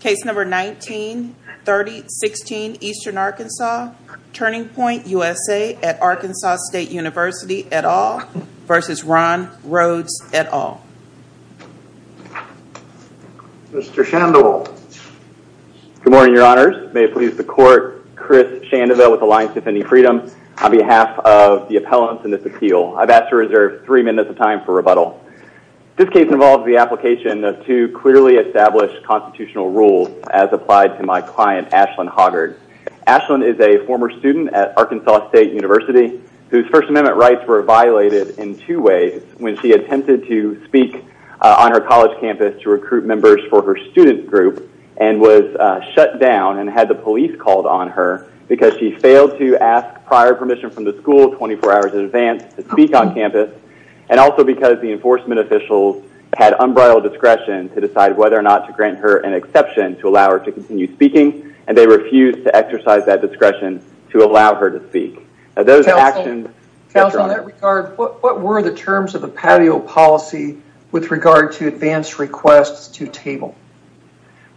Case number 19-30-16 Eastern Arkansas, Turning Point USA at Arkansas State University, et al. v. Ron Rhodes, et al. Mr. Shandoval. Good morning, your honors. May it please the court, Chris Shandoval with Alliance Defending Freedom on behalf of the appellants in this appeal. I've asked to reserve three minutes of time for rebuttal. This case involves the application of two clearly established constitutional rules as applied to my client Ashlyn Hoggard. Ashlyn is a former student at Arkansas State University whose First Amendment rights were violated in two ways when she attempted to speak on her college campus to recruit members for her student group and was shut down and had the police called on her because she failed to ask prior permission from the school 24 hours in advance to speak on campus and also because the enforcement officials had unbridled discretion to decide whether or not to grant her an exception to allow her to continue speaking and they refused to exercise that discretion to allow her to speak. Counsel, in that regard, what were the terms of the patio policy with regard to advanced requests to table?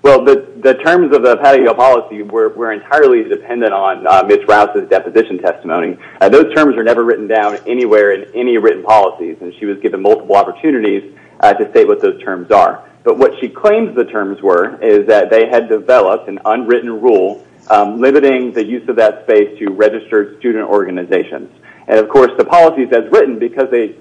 Well, the terms of the patio policy were entirely dependent on Mitch Rouse's deposition testimony. Those terms are never written down anywhere in any written policies and she was given multiple opportunities to state what those terms are. But what she claims the terms were is that they had developed an unwritten rule limiting the use of that space to registered student organizations. And, of course, the policies as written, because they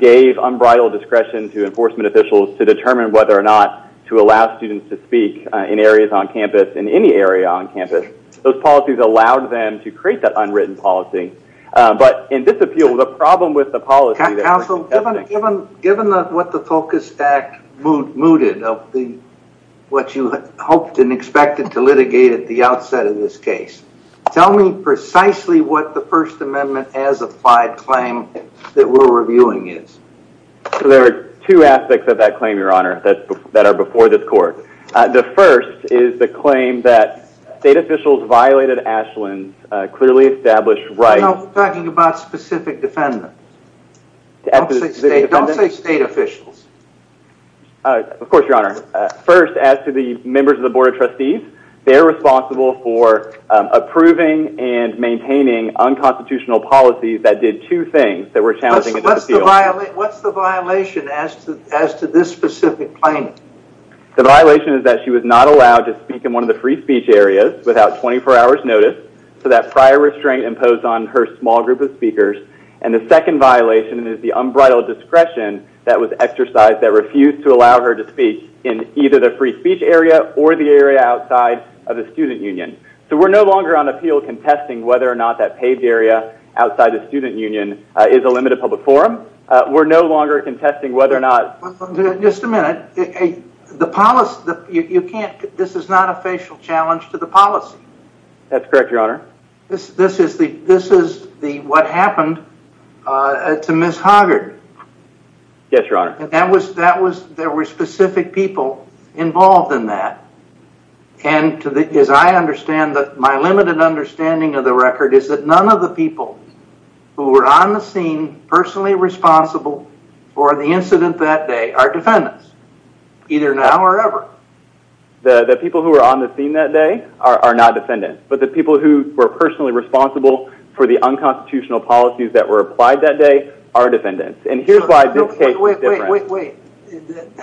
gave unbridled discretion to enforcement officials to determine whether or not to allow students to speak in areas on campus, in any area on campus, those policies allowed them to create that unwritten policy. But in this appeal, the problem with the policy... Counsel, given what the FOCUS Act mooted of what you hoped and expected to litigate at the outset of this case, tell me precisely what the First Amendment as applied claim that we're reviewing is. So there are two aspects of that claim, your honor, that are before this court. The first is the claim that state clearly established rights... We're talking about specific defendants. Don't say state officials. Of course, your honor. First, as to the members of the Board of Trustees, they're responsible for approving and maintaining unconstitutional policies that did two things that were challenging... What's the violation as to this specific claim? The violation is that she was not allowed to impose on her small group of speakers. And the second violation is the unbridled discretion that was exercised that refused to allow her to speak in either the free speech area or the area outside of the student union. So we're no longer on appeal contesting whether or not that paved area outside the student union is a limited public forum. We're no longer contesting whether or not... Just a minute. The policy... You can't... This is not a facial challenge to the policy. That's correct, your honor. This is what happened to Ms. Hoggard. Yes, your honor. There were specific people involved in that. And as I understand that my limited understanding of the record is that none of the people who were on the scene personally responsible for the incident that day are ever. The people who were on the scene that day are not defendants. But the people who were personally responsible for the unconstitutional policies that were applied that day are defendants. And here's why this case is different. Wait, wait, wait.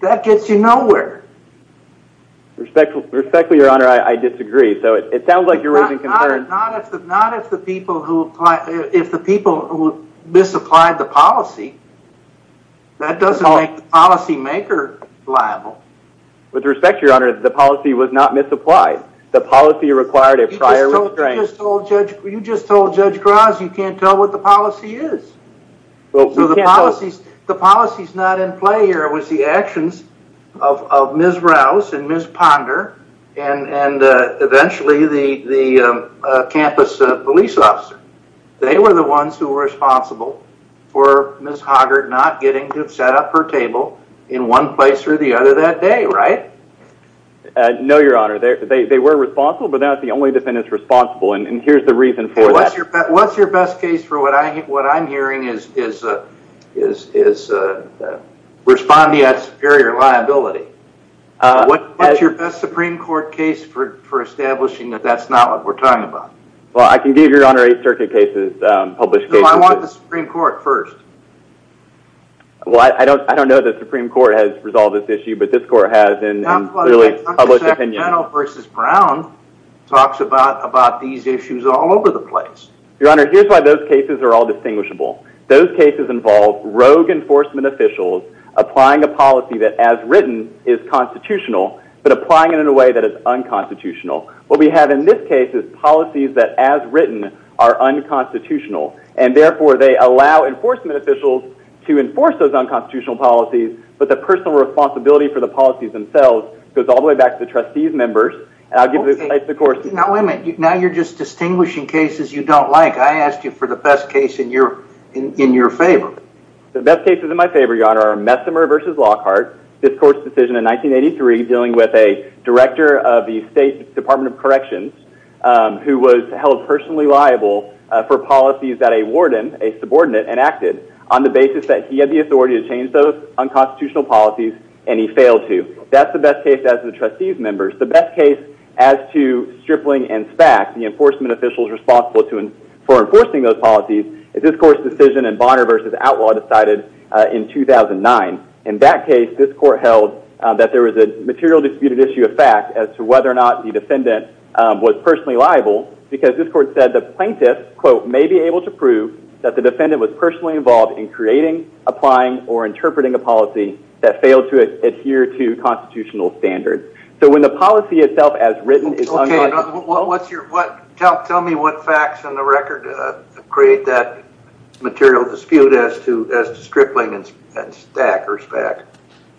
That gets you nowhere. Respectfully, your honor, I disagree. So it sounds like you're raising concerns... Not if the people who applied... If the people who misapplied the policy, that doesn't make the policymaker liable. With respect, your honor, the policy was not misapplied. The policy required a prior restraining... You just told Judge Graz you can't tell what the policy is. So the policy's not in play here. It was the actions of Ms. Rouse and Ms. Ponder and eventually the campus police officer. They were the ones who were responsible for Ms. Hoggart not getting to set up her table in one place or the other that day, right? No, your honor. They were responsible, but not the only defendants responsible. And here's the reason for that. What's your best case for what I'm hearing is responding at superior liability. What's your best Supreme Court case for establishing that that's not what we're talking about? Well, I can give you, your honor, eight circuit cases, published cases... No, I want the Supreme Court first. Well, I don't know that the Supreme Court has resolved this issue, but this court has in clearly published opinion. The second panel versus Brown talks about these issues all over the place. Your honor, here's why those cases are all distinguishable. Those cases involve rogue enforcement officials applying a policy that as written is constitutional, but applying it in a way that is unconstitutional. What we have in this case is policies that as written are unconstitutional. And therefore they allow enforcement officials to enforce those unconstitutional policies, but the personal responsibility for the policies themselves goes all the way back to the trustees members. And I'll give you the course... Now, wait a minute. Now you're just distinguishing cases you don't like. I asked you for the best in your favor. The best cases in my favor, your honor, are Messimer versus Lockhart, this court's decision in 1983 dealing with a director of the State Department of Corrections who was held personally liable for policies that a warden, a subordinate, enacted on the basis that he had the authority to change those unconstitutional policies and he failed to. That's the best case as the trustees members. The best case as to Stripling and SPAC, the enforcement officials for enforcing those policies, is this court's decision in Bonner versus Outlaw decided in 2009. In that case, this court held that there was a material disputed issue of fact as to whether or not the defendant was personally liable because this court said the plaintiff, quote, may be able to prove that the defendant was personally involved in creating, applying, or interpreting a policy that failed to adhere to constitutional standards. So when the policy itself as written is unconstitutional... Okay. Well, what's your... Tell me what facts in the record create that material dispute as to Stripling and SPAC or SPAC.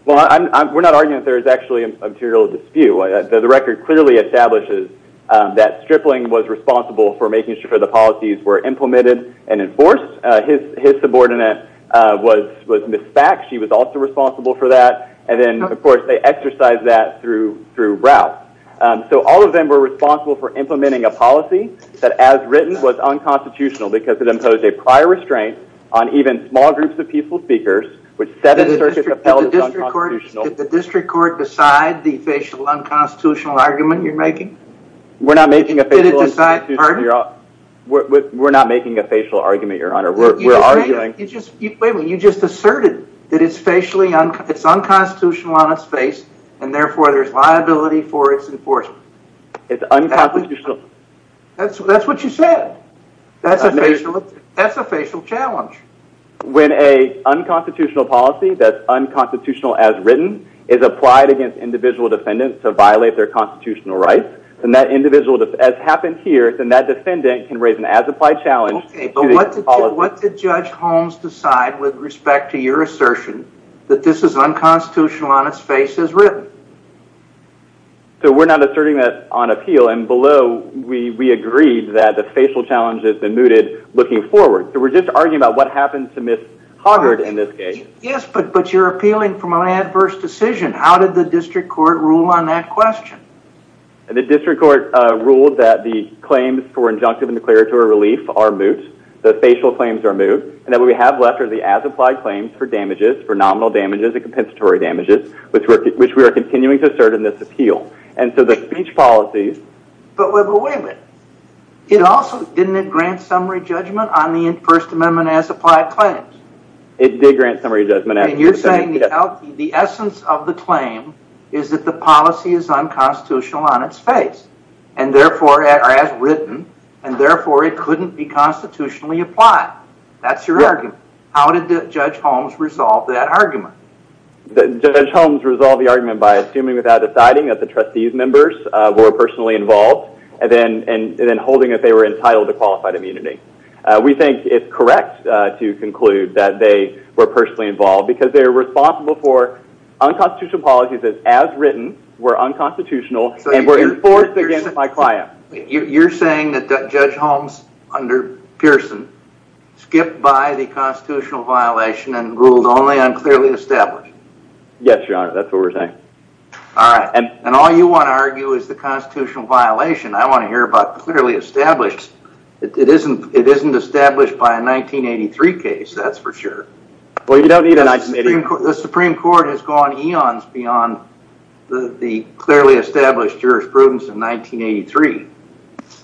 Well, we're not arguing that there's actually a material dispute. The record clearly establishes that Stripling was responsible for making sure the policies were implemented and enforced. His subordinate was Ms. SPAC. She was also responsible for that. And then, of course, they exercised that throughout. So all of them were responsible for implementing a policy that, as written, was unconstitutional because it imposed a prior restraint on even small groups of peaceful speakers with seven circuits upheld as unconstitutional. Did the district court decide the facial unconstitutional argument you're making? We're not making a facial unconstitutional argument, Your Honor. We're arguing... Wait a minute. You just asserted that it's unconstitutional on its face and, therefore, there's liability for its enforcement. It's unconstitutional... That's what you said. That's a facial challenge. When a unconstitutional policy that's unconstitutional as written is applied against individual defendants to violate their constitutional rights, then that individual, as happened here, then that defendant can raise an as-applied challenge... Okay. But what did Judge Holmes decide with respect to your assertion that this is unconstitutional on its face as written? So we're not asserting that on appeal. And below, we agreed that the facial challenge has been mooted looking forward. So we're just arguing about what happened to Ms. Hoggart in this case. Yes, but you're appealing from an adverse decision. How did the district court rule on that question? The district court ruled that the claims for injunctive and declaratory relief are moot, the facial claims are moot, and that what we have left are the as-applied claims for damages, for nominal damages and compensatory damages, which we are continuing to assert in this appeal. And so the speech policies... But wait a minute. It also, didn't it grant summary judgment on the First Amendment as-applied claims? It did grant summary judgment. And you're saying the essence of the claim is that the policy is unconstitutional on its face, and therefore as written, and therefore it couldn't be constitutionally applied. That's your argument. How did Judge Holmes resolve that argument? Judge Holmes resolved the argument by assuming without deciding that the trustees members were personally involved, and then holding that they were entitled to qualified immunity. We think it's correct to conclude that they were personally involved because they're responsible for unconstitutional policies as written, were unconstitutional, and were enforced against my skipped by the constitutional violation and ruled only on clearly established. Yes, Your Honor. That's what we're saying. All right. And all you want to argue is the constitutional violation. I want to hear about clearly established. It isn't established by a 1983 case, that's for sure. The Supreme Court has gone eons beyond the clearly established jurisprudence in 1983.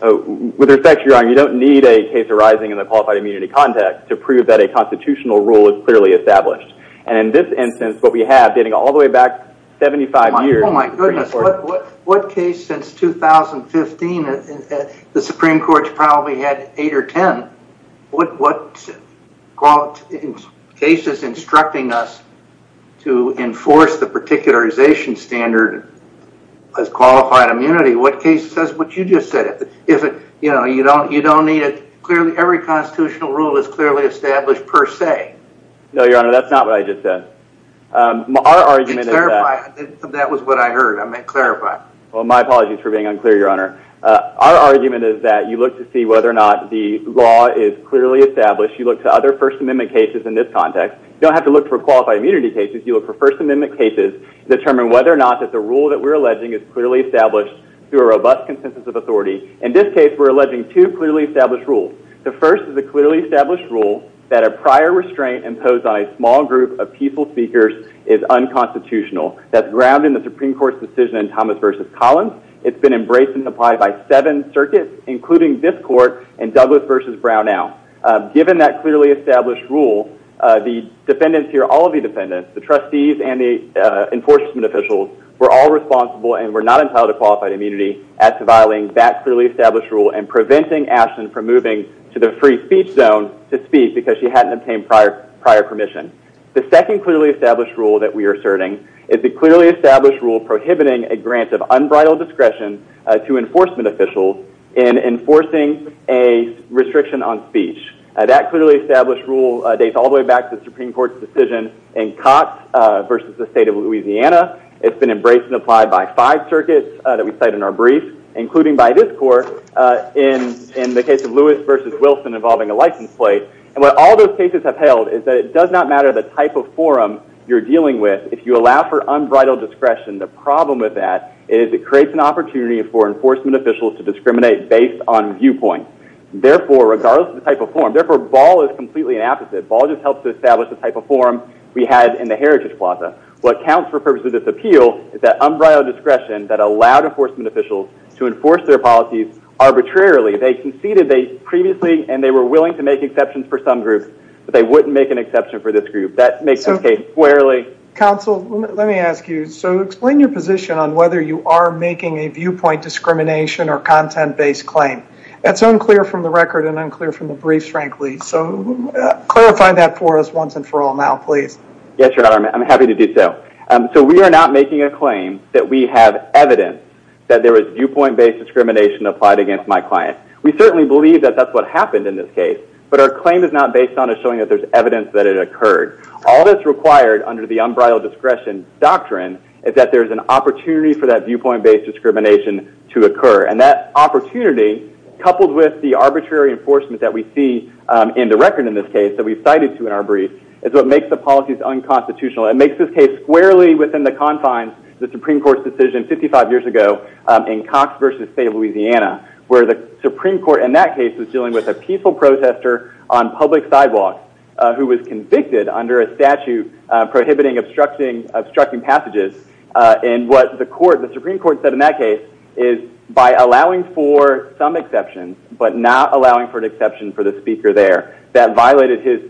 Oh, with respect, Your Honor, you don't need a case arising in a qualified immunity context to prove that a constitutional rule is clearly established. And in this instance, what we have dating all the way back 75 years... Oh, my goodness. What case since 2015, the Supreme Court's probably had eight or 10. What cases instructing us to enforce the is it, you know, you don't need it. Clearly, every constitutional rule is clearly established per se. No, Your Honor. That's not what I just said. Our argument is that... Clarify. That was what I heard. I meant clarify. Well, my apologies for being unclear, Your Honor. Our argument is that you look to see whether or not the law is clearly established. You look to other First Amendment cases in this context. You don't have to look for qualified immunity cases. You look for First Amendment cases determine whether or not that the rule that we're alleging is clearly established through a robust consensus of authority. In this case, we're alleging two clearly established rules. The first is a clearly established rule that a prior restraint imposed on a small group of peaceful speakers is unconstitutional. That's grounded in the Supreme Court's decision in Thomas v. Collins. It's been embraced and applied by seven circuits, including this court and Douglas v. Brown now. Given that clearly established rule, the defendants here, all of the defendants, the trustees and the enforcement officials, were all responsible and were not entitled to qualified immunity at reviling that clearly established rule and preventing Ashland from moving to the free speech zone to speak because she hadn't obtained prior permission. The second clearly established rule that we are asserting is the clearly established rule prohibiting a grant of unbridled discretion to enforcement officials in enforcing a restriction on speech. That clearly established rule dates all the way back to the Supreme Court's decision in Cox v. the state of Louisiana. It's been embraced and applied by five circuits that we cite in our brief, including by this court in the case of Lewis v. Wilson involving a license plate. What all those cases have held is that it does not matter the type of forum you're dealing with if you allow for unbridled discretion. The problem with that is it creates an opportunity for enforcement officials to discriminate based on viewpoint. Therefore, regardless of the type of forum, therefore, Ball is completely the opposite. Ball just helps to establish the type of forum we had in the heritage plaza. What counts for purposes of this appeal is that unbridled discretion that allowed enforcement officials to enforce their policies arbitrarily. They conceded they previously and they were willing to make exceptions for some groups, but they wouldn't make an exception for this group. That makes this case squarely. Counsel, let me ask you. Explain your position on whether you are making a viewpoint discrimination or content-based claim. That's unclear from the record and unclear from the brief, frankly. Clarify that for us once and for all now, please. Yes, your honor. I'm happy to do so. We are not making a claim that we have evidence that there was viewpoint-based discrimination applied against my client. We certainly believe that that's what happened in this case, but our claim is not based on us showing that there's evidence that it occurred. All that's required under the unbridled discretion doctrine is that there's an opportunity for that viewpoint-based discrimination to occur, and that opportunity, coupled with the arbitrary enforcement that we see in the record in this case that we've cited to in our brief, is what makes the policies unconstitutional. It makes this case squarely within the confines of the Supreme Court's decision 55 years ago in Cox v. State of Louisiana, where the Supreme Court in that case was dealing with a peaceful protester on public sidewalks who was convicted under a statute prohibiting obstructing passages, and what the Supreme Court said in that case is by allowing for some exceptions, but not allowing for an exception for the speaker there, that violated his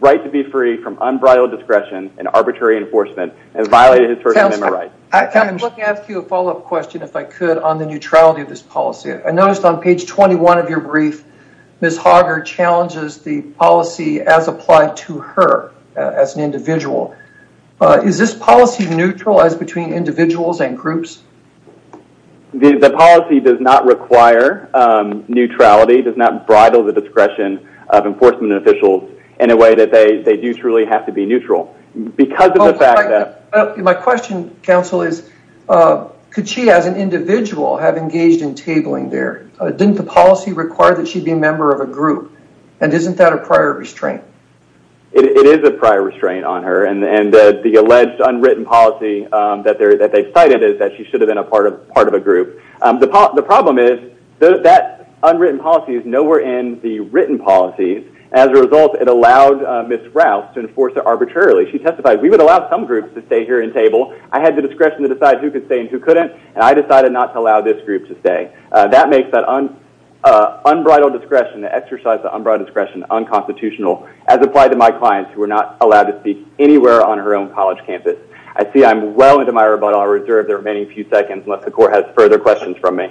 right to be free from unbridled discretion and arbitrary enforcement and violated his first amendment right. I'd like to ask you a follow-up question, if I could, on the neutrality of this policy. I noticed on page 21 of your brief, Ms. Hoggar challenges the policy as applied to her as an individual. Is this policy neutral? As between individuals and groups? The policy does not require neutrality, does not bridle the discretion of enforcement officials in a way that they do truly have to be neutral. My question, counsel, is could she as an individual have engaged in tabling there? Didn't the policy require that she be a member of a group, and isn't that a prior restraint? It is a prior restraint on her, and the alleged unwritten policy that they've cited is that she should have been a part of a group. The problem is that unwritten policy is nowhere in the written policies. As a result, it allowed Ms. Rouse to enforce it arbitrarily. She testified, we would allow some groups to stay here and table. I had the discretion to decide who could stay and who couldn't, and I decided not to allow this group to stay. That makes that unbridled discretion, the exercise of unbridled discretion, unconstitutional as applied to my clients who were not allowed to speak anywhere on her own college campus. I see I'm well into my rebuttal. I'll reserve the remaining few seconds unless the court has further questions from me.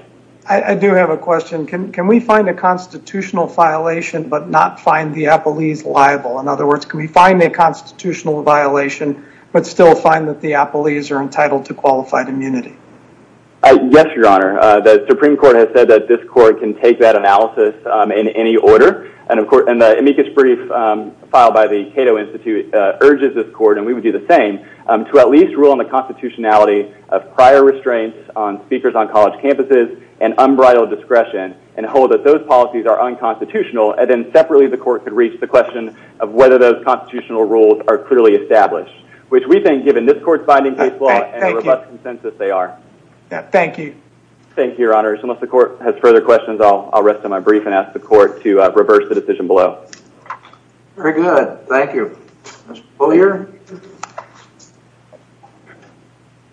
I do have a question. Can we find a constitutional violation but not find the appellees liable? In other words, can we find a constitutional violation but still find that the appellees are entitled to qualified immunity? Yes, Your Honor. The Supreme Court has ordered, and the amicus brief filed by the Cato Institute urges this court, and we would do the same, to at least rule on the constitutionality of prior restraints on speakers on college campuses and unbridled discretion and hold that those policies are unconstitutional, and then separately the court could reach the question of whether those constitutional rules are clearly established, which we think, given this court's binding case law and robust consensus, they are. Thank you. Thank you, Your Honor. Unless the court has further questions, I'll rest on my brief and ask the court to reverse the decision below. Very good. Thank you. Mr. Beaulieu.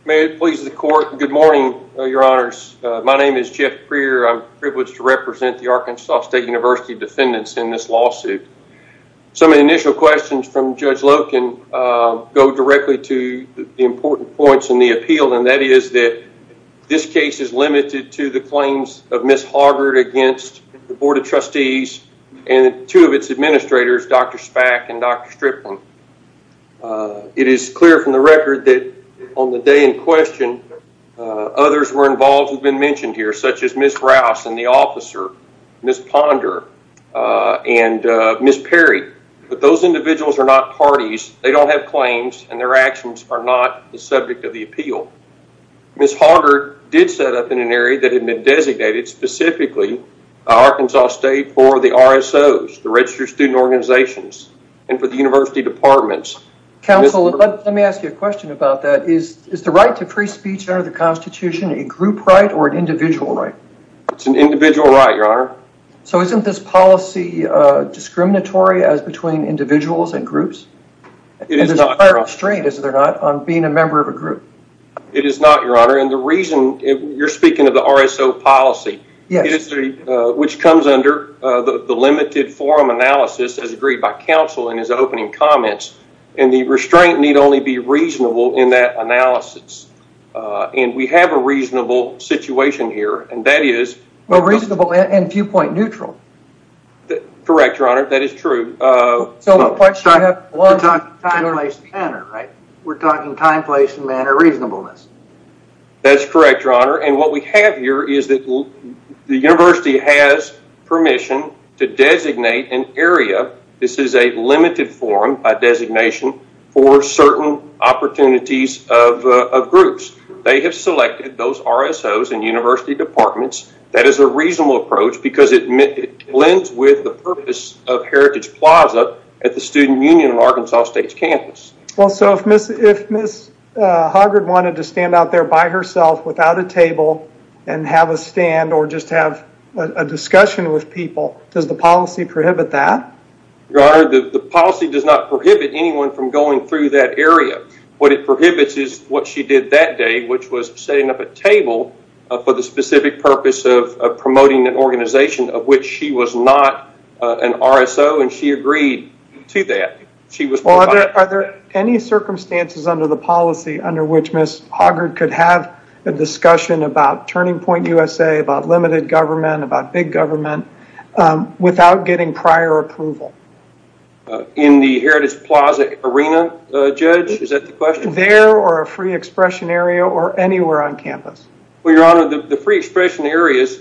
May it please the court, good morning, Your Honors. My name is Jeff Breer. I'm privileged to represent the Arkansas State University defendants in this lawsuit. Some of the initial questions from Judge Loken go directly to the important points in the appeal, and that is that this case is limited to the claims of Ms. Hoggart against the Board of Trustees and two of its administrators, Dr. Spak and Dr. Stripling. It is clear from the record that on the day in question, others were involved who've been mentioned here, such as Ms. Rouse and the officer, Ms. Ponder and Ms. Perry, but those individuals are not parties. They don't have claims, and their actions are not the subject of the appeal. Ms. Hoggart did set up in an area that had been designated specifically by Arkansas State for the RSOs, the Registered Student Organizations, and for the university departments. Counsel, let me ask you a question about that. Is the right to free speech under the Constitution a group right or an individual right? It's an individual right, Your Honor. So isn't this policy discriminatory as between individuals and groups? It is not, Your Honor. And there's a prior restraint, is there not, on being a member of a group? It is not, Your Honor, and the reason you're speaking of the RSO policy, which comes under the limited forum analysis as agreed by counsel in his opening comments, and the restraint need only be reasonable in that analysis, and we have a reasonable situation here, and that is... Well, reasonable and viewpoint neutral. That's correct, Your Honor. That is true. So the point is we're talking time, place, and manner, right? We're talking time, place, and manner reasonableness. That's correct, Your Honor, and what we have here is that the university has permission to designate an area. This is a limited forum by designation for certain opportunities of groups. They have selected those RSOs and university departments. That is a reasonable approach because it blends with the purpose of Heritage Plaza at the Student Union of Arkansas State's campus. Well, so if Ms. Haggard wanted to stand out there by herself without a table and have a stand or just have a discussion with people, does the policy prohibit that? Your Honor, the policy does not prohibit anyone from going through that area. What it prohibits is what she did that day, which was setting up a table for the specific purpose of promoting an organization of which she was not an RSO, and she agreed to that. Are there any circumstances under the policy under which Ms. Haggard could have a discussion about Turning Point USA, about limited government, about big approval? In the Heritage Plaza arena, Judge, is that the question? There or a free expression area or anywhere on campus? Well, Your Honor, the free expression areas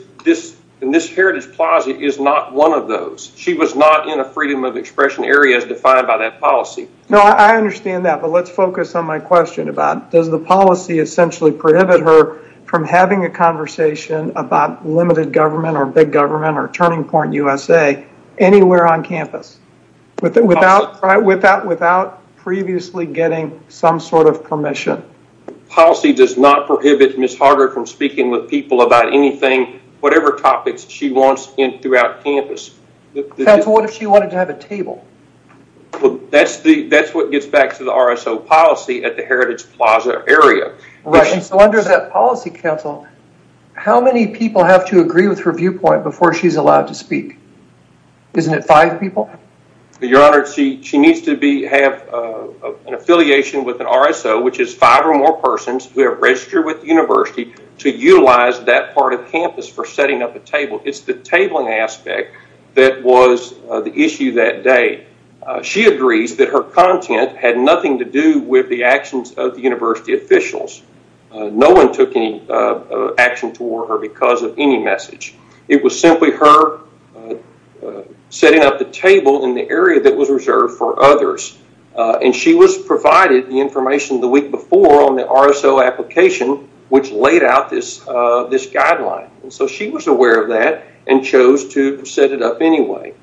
in this Heritage Plaza is not one of those. She was not in a freedom of expression area as defined by that policy. No, I understand that, but let's focus on my question about does the policy essentially prohibit her from having a conversation about limited government or big government or Turning Point on campus without previously getting some sort of permission? The policy does not prohibit Ms. Haggard from speaking with people about anything, whatever topics she wants in throughout campus. Counsel, what if she wanted to have a table? Well, that's what gets back to the RSO policy at the Heritage Plaza area. Right, and so under that policy, Counsel, how many people have to agree with her viewpoint before she's allowed to speak? Isn't it five people? Your Honor, she needs to have an affiliation with an RSO, which is five or more persons who have registered with the university to utilize that part of campus for setting up a table. It's the tabling aspect that was the issue that day. She agrees that her content had nothing to do with actions of the university officials. No one took any action toward her because of any message. It was simply her setting up the table in the area that was reserved for others, and she was provided the information the week before on the RSO application, which laid out this guideline, and so she was aware of that and chose to set it up anyway.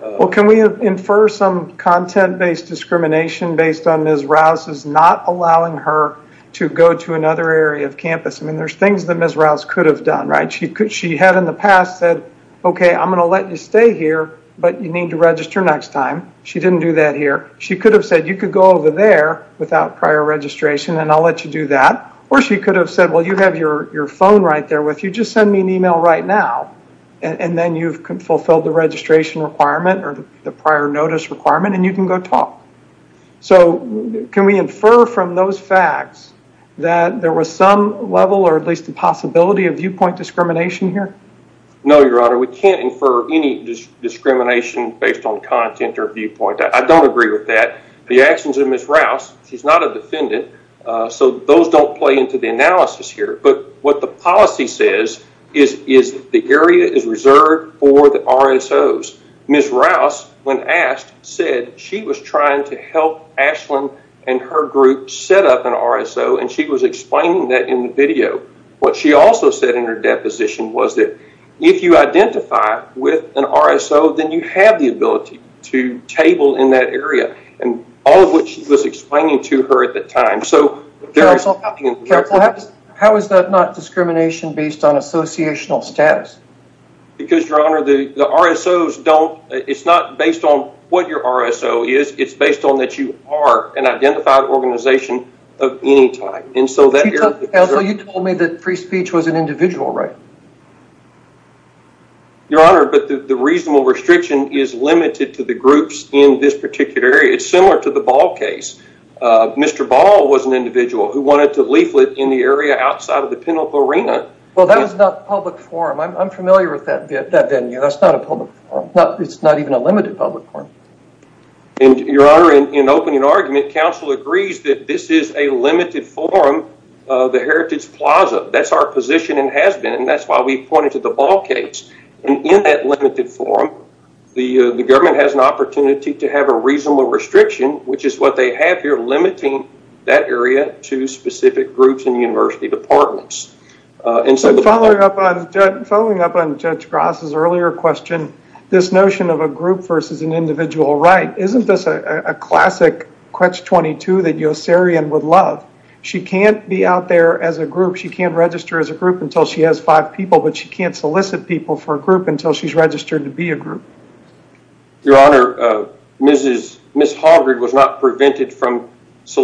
Well, can we infer some content-based discrimination based on Ms. Rouse's not allowing her to go to another area of campus? I mean, there's things that Ms. Rouse could have done, right? She had in the past said, okay, I'm going to let you stay here, but you need to register next time. She didn't do that here. She could have said, you could go over there without prior registration, and I'll let you do that, or she could have said, well, you have your phone right there with you. Just send me an email right now, and then you've fulfilled the registration requirement or the prior notice requirement, and you can go talk. So can we infer from those facts that there was some level or at least the possibility of viewpoint discrimination here? No, Your Honor. We can't infer any discrimination based on content or viewpoint. I don't agree with that. The actions of Ms. Rouse, she's not a defendant, so those don't play into the analysis here, but what the policy says is the area is she was trying to help Ashlyn and her group set up an RSO, and she was explaining that in the video. What she also said in her deposition was that if you identify with an RSO, then you have the ability to table in that area, and all of which she was explaining to her at the time. How is that not discrimination based on associational status? Because, Your Honor, the RSOs don't, it's not based on what your RSO is. It's based on that you are an identified organization of any type, and so that... Also, you told me that free speech was an individual right? Your Honor, but the reasonable restriction is limited to the groups in this particular area. It's similar to the Ball case. Mr. Ball was an individual who wanted to that venue. That's not a public forum. It's not even a limited public forum. Your Honor, in opening argument, counsel agrees that this is a limited forum of the Heritage Plaza. That's our position and has been, and that's why we pointed to the Ball case, and in that limited forum, the government has an opportunity to have a reasonable restriction, which is what they have here, limiting that area to specific groups and university departments. And so... Following up on Judge Gross' earlier question, this notion of a group versus an individual right, isn't this a classic Quetch 22 that Yossarian would love? She can't be out there as a group. She can't register as a group until she has five people, but she can't solicit people for a group until she's registered to be a group. Your Honor, Ms. Harvard was not prevented from the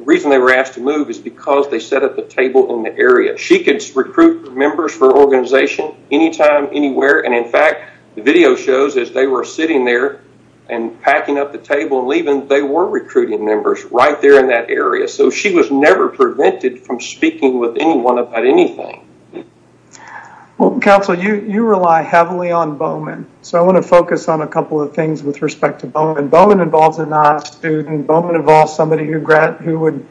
reason they were asked to move is because they set up a table in the area. She could recruit members for organization anytime, anywhere, and in fact, the video shows as they were sitting there and packing up the table and leaving, they were recruiting members right there in that area, so she was never prevented from speaking with anyone about anything. Counsel, you rely heavily on Bowman, so I want to focus on a couple of things with respect to Bowman. Bowman involves a non-student. Bowman involves somebody who would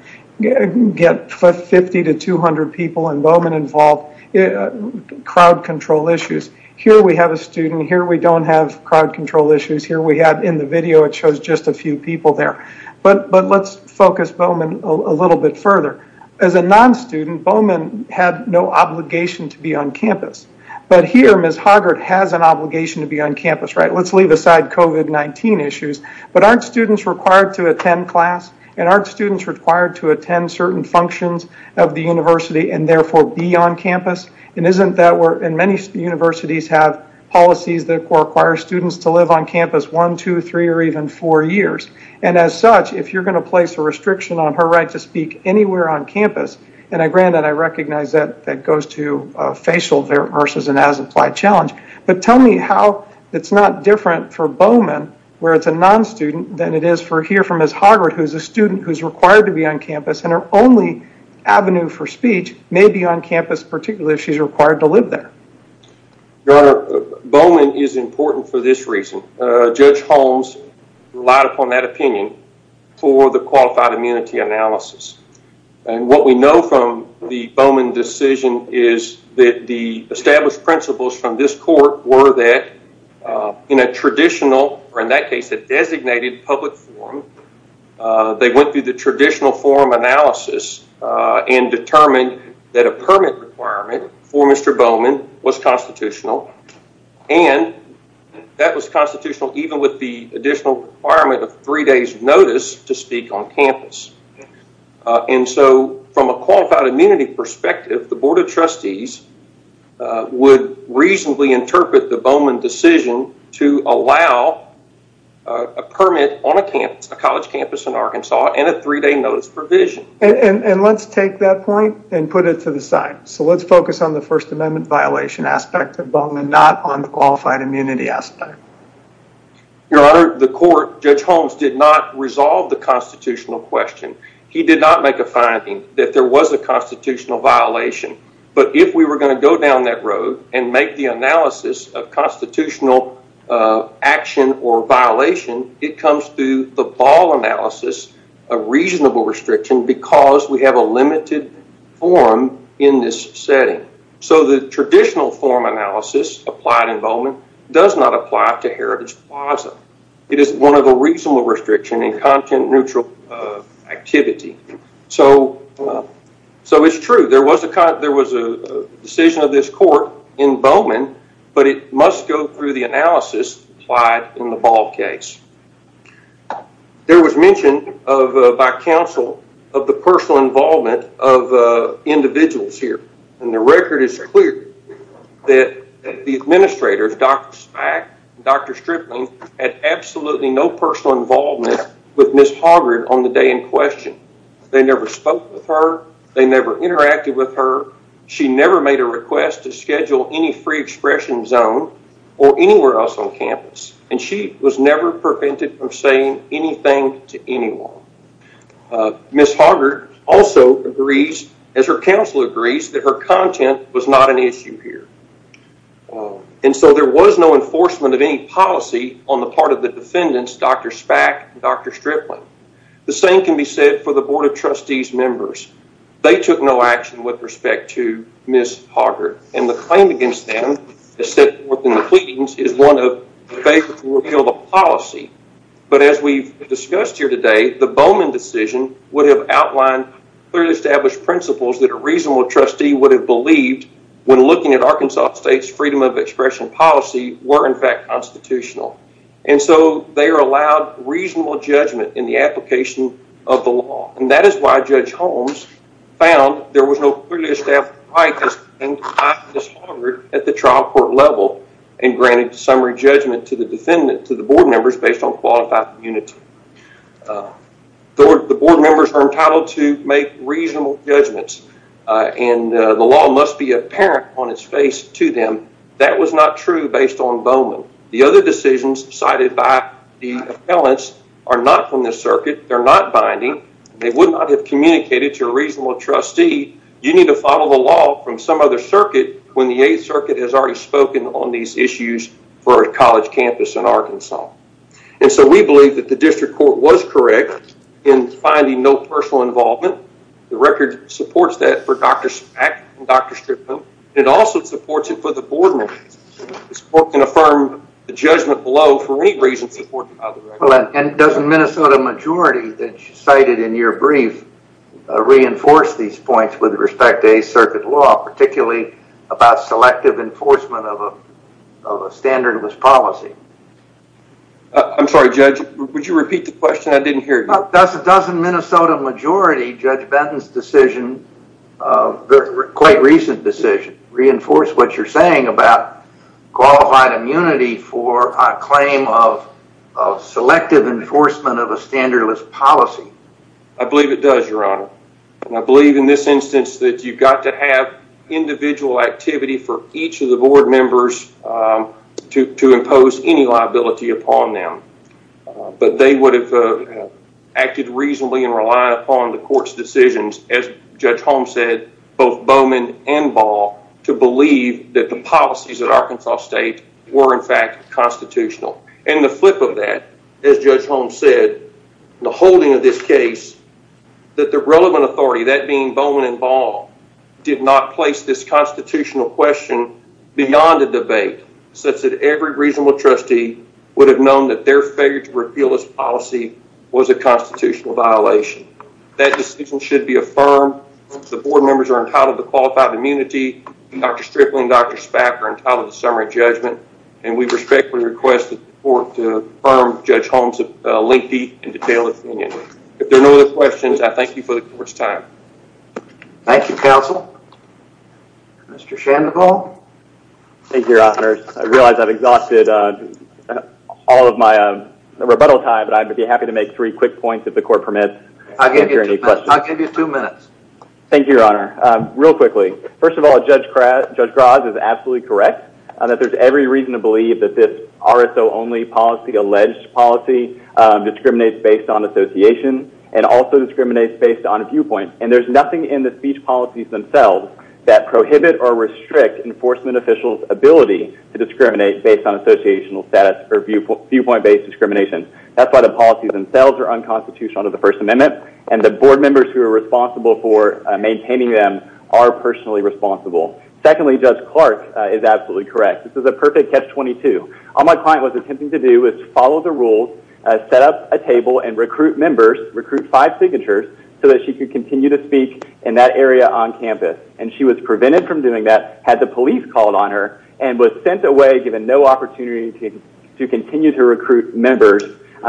get 50 to 200 people, and Bowman involved crowd control issues. Here we have a student. Here we don't have crowd control issues. Here we have in the video, it shows just a few people there, but let's focus Bowman a little bit further. As a non-student, Bowman had no obligation to be on campus, but here Ms. Harvard has an obligation to attend class, and our students are required to attend certain functions of the university and therefore be on campus. Many universities have policies that require students to live on campus one, two, three, or even four years, and as such, if you're going to place a restriction on her right to speak anywhere on campus, and I recognize that that goes to facial versus an as-applied challenge, but tell me how it's not different for Bowman, where it's a non-student, than it is for here for Ms. Harvard, who's a student who's required to be on campus, and her only avenue for speech may be on campus, particularly if she's required to live there. Your Honor, Bowman is important for this reason. Judge Holmes relied upon that opinion for the qualified immunity analysis, and what we know from the Bowman decision is that the established principles from this court were that in a traditional, or in that case, a designated public forum, they went through the traditional forum analysis and determined that a permit requirement for Mr. Bowman was constitutional, and that was constitutional even with the additional requirement of three days notice to speak on campus, and so from a qualified immunity perspective, the Board of Trustees would reasonably interpret the Bowman decision to allow a permit on a campus, a college campus in Arkansas, and a three-day notice provision. And let's take that point and put it to the side, so let's focus on the First Amendment violation aspect of Bowman, not on the qualified immunity aspect. Your Honor, the court, Judge Holmes did not resolve the constitutional question. He did not make a finding that there was a constitutional violation, but if we were going to go down that road and make the analysis of constitutional action or violation, it comes through the ball analysis of reasonable restriction because we have a limited forum in this setting, so the traditional forum analysis applied in Bowman does not apply to Heritage Plaza. It is a reasonable restriction in content-neutral activity, so it's true. There was a decision of this court in Bowman, but it must go through the analysis applied in the Ball case. There was mention by counsel of the personal involvement of individuals here, and the record is clear that the administrators, Dr. Speck and Dr. Stripling, had absolutely no personal involvement with Ms. Hoggard on the day in question. They never spoke with her. They never interacted with her. She never made a request to schedule any free expression zone or anywhere else on campus, and she was never prevented from saying anything to anyone. Ms. Hoggard also agrees, that her content was not an issue here, and so there was no enforcement of any policy on the part of the defendants, Dr. Speck and Dr. Stripling. The same can be said for the Board of Trustees members. They took no action with respect to Ms. Hoggard, and the claim against them is set forth in the pleadings as one of the favors to repeal the policy, but as we've discussed here today, the Bowman decision would have outlined clearly established principles that are reasonable trustee would have believed when looking at Arkansas State's freedom of expression policy were in fact constitutional, and so they are allowed reasonable judgment in the application of the law, and that is why Judge Holmes found there was no clearly established right at the trial court level and granted summary judgment to the defendant to the board members based on qualified community. The board members are entitled to make reasonable judgments, and the law must be apparent on its face to them. That was not true based on Bowman. The other decisions cited by the appellants are not from the circuit. They're not binding. They would not have communicated to a reasonable trustee. You need to follow the law from some other circuit when the Eighth Circuit has already spoken on these issues for a college campus in Arkansas, and so we believe that the district court was correct in finding no personal involvement. The record supports that for Dr. Spak and Dr. Strickland. It also supports it for the board members. The court can affirm the judgment below for any reason supported by the record. And doesn't Minnesota majority that you cited in your brief reinforce these points with respect to Eighth Circuit law, particularly about selective enforcement of a standard of this policy? I'm sorry, Judge. Would you repeat the question? I didn't hear you. Doesn't Minnesota majority, Judge Benton's decision, quite recent decision, reinforce what you're saying about qualified immunity for a claim of selective enforcement of a standard of this policy? I believe it does, Your Honor. And I believe in this instance that you've got to have individual activity for each of the acted reasonably and relied upon the court's decisions, as Judge Holmes said, both Bowman and Ball to believe that the policies at Arkansas State were, in fact, constitutional. And the flip of that, as Judge Holmes said, the holding of this case, that the relevant authority, that being Bowman and Ball, did not place this constitutional question beyond a debate, such that every reasonable trustee would have known that their failure to repeal this policy was a constitutional violation. That decision should be affirmed. The board members are entitled to qualified immunity. Dr. Strickland and Dr. Spaff are entitled to summary judgment. And we respectfully request the court to affirm Judge Holmes' lengthy and detailed opinion. If there are no other questions, I thank you for the court's time. Thank you, counsel. Mr. Shanmugam. Thank you, Your Honor. I realize I've exhausted all of my rebuttal time, but I'd be happy to make three quick points if the court permits. I'll give you two minutes. Thank you, Your Honor. Real quickly, first of all, Judge Graz is absolutely correct that there's every reason to believe that this RSO-only policy, alleged policy, discriminates based on association and also discriminates based on viewpoint. And there's nothing in the speech policies themselves that prohibit or restrict enforcement officials' ability to discriminate based on associational status or viewpoint-based discrimination. That's why the policies themselves are unconstitutional under the First Amendment, and the board members who are responsible for maintaining them are personally responsible. Secondly, Judge Clark is absolutely correct. This is a perfect catch-22. All my client was attempting to do is follow the rules, set up a table and recruit members, recruit five signatures, so that she could continue to speak in that area on campus. And she was prevented from doing that, had the police called on her, and was sent away given no opportunity to continue to recruit members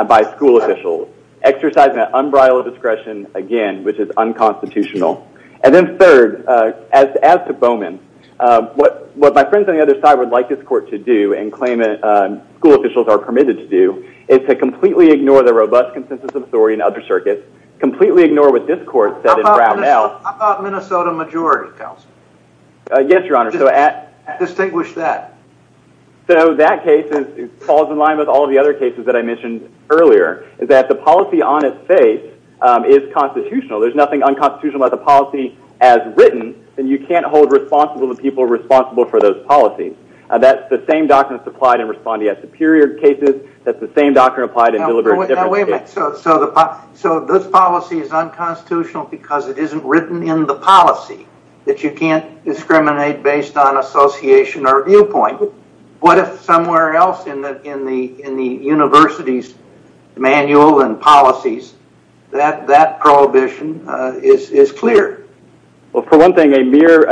by school officials, exercising that umbrella of discretion, again, which is unconstitutional. And then third, as to Bowman, what my friends on the other side would like this court to do and claim that school officials are permitted to do is to completely ignore the robust consensus of authority in other circuits, completely ignore what this court said in Brown Counsel. Yes, Your Honor. Distinguish that. So that case falls in line with all the other cases that I mentioned earlier, is that the policy on its face is constitutional. There's nothing unconstitutional about the policy as written, and you can't hold responsible the people responsible for those policies. That's the same doctrine applied in respondeat superior cases. That's the same doctrine applied in deliberate different cases. So this policy is unconstitutional because it isn't written in the policy, that you can't discriminate based on association or viewpoint. What if somewhere else in the university's manual and policies, that prohibition is clear? Well, for one thing, a mere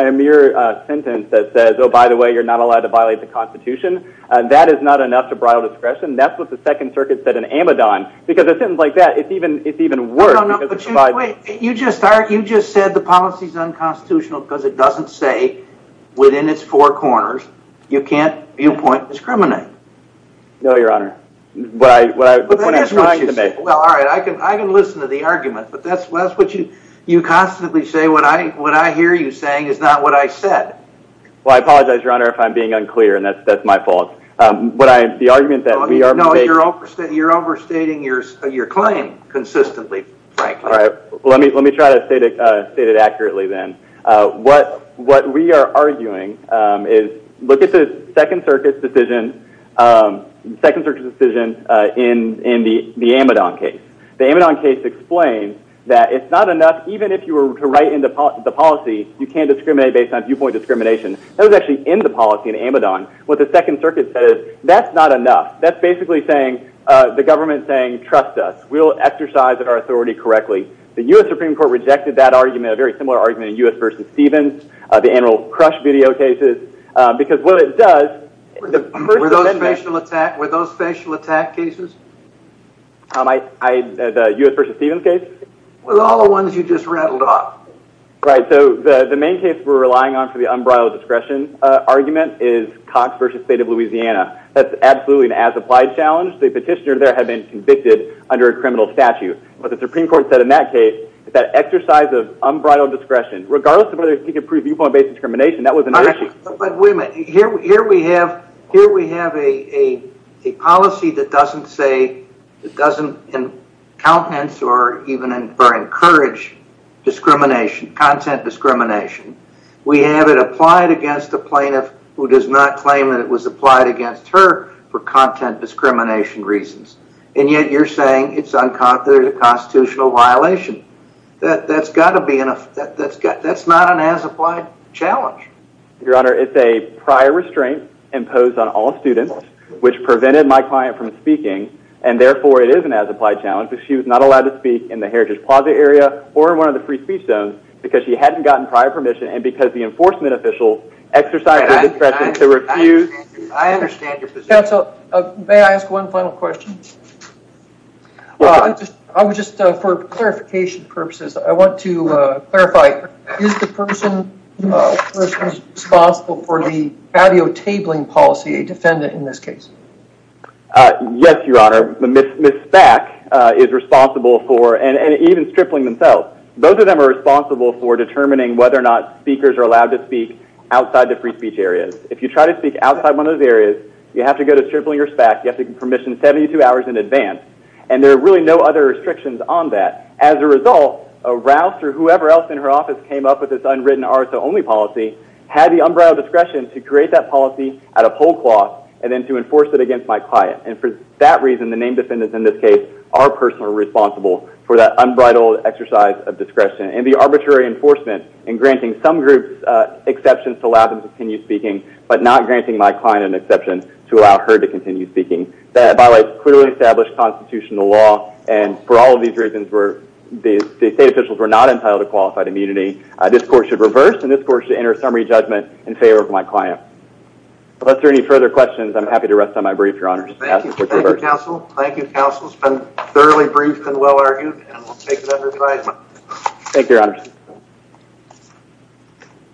sentence that says, oh, by the way, you're not allowed to violate the Constitution, that is not enough to bribe discretion. That's what the Second Circuit said because a sentence like that, it's even worse. You just said the policy is unconstitutional because it doesn't say within its four corners, you can't viewpoint discriminate. No, Your Honor. All right. I can listen to the argument, but that's what you constantly say. What I hear you saying is not what I said. Well, I apologize, Your Honor, if I'm being unclear, and that's my fault. The argument that we are making... No, you're overstating your claim consistently, frankly. All right. Let me try to state it accurately then. What we are arguing is, look at the Second Circuit's decision in the Amidon case. The Amidon case explained that it's not enough, even if you were to write in the policy, you can't discriminate based on viewpoint discrimination. That was actually in the policy in Amidon. What the Second Circuit says, that's not enough. That's basically the government saying, trust us, we'll exercise our authority correctly. The U.S. Supreme Court rejected that argument, a very similar argument in U.S. v. Stevens, the annual crush video cases, because what it does... Were those facial attack cases? U.S. v. Stevens case? With all the ones you just rattled off. Right. The main case we're relying on for the unbridled discretion argument is Cox v. State of Louisiana. That's absolutely an as-applied challenge. The petitioner there had been convicted under a criminal statute. What the Supreme Court said in that case, is that exercise of unbridled discretion, regardless of whether you can prove viewpoint-based discrimination, that wasn't an issue. Wait a minute. Here we have a policy that doesn't say, that doesn't countenance or encourage content discrimination. We have it applied against a plaintiff who does not claim that it was applied against her for content discrimination reasons, and yet you're saying it's unconstitutional violation. That's not an as-applied challenge. Your Honor, it's a prior restraint imposed on all students, which prevented my client from not allowed to speak in the Heritage Plaza area, or in one of the free speech zones, because she hadn't gotten prior permission, and because the enforcement official exercised her discretion to refuse... I understand your position. Counsel, may I ask one final question? I would just, for clarification purposes, I want to clarify, is the person responsible for the audio tabling policy a defendant in this case? Yes, Your Honor. Ms. Spak is responsible for, and even Stripling themselves, both of them are responsible for determining whether or not speakers are allowed to speak outside the free speech areas. If you try to speak outside one of those areas, you have to go to Stripling or Spak, you have to get permission 72 hours in advance, and there are really no other restrictions on that. As a result, Rouse, or whoever else in her office came up with this unwritten RSO only policy, had the unbridled discretion to create that policy at a poll cloth, and then to enforce it against my client. And for that reason, the named defendants in this case are personally responsible for that unbridled exercise of discretion, and the arbitrary enforcement in granting some groups exceptions to allow them to continue speaking, but not granting my client an exception to allow her to continue speaking. By the way, it's clearly established constitutional law, and for all of these reasons, the state officials were not entitled to qualified immunity. This court should reverse, and this court should enter a summary judgment in favor of my client. Unless there are any further questions, I'm happy to rest on my brief, your honor. Thank you, counsel. It's been thoroughly briefed and well-argued. Thank you, your honor.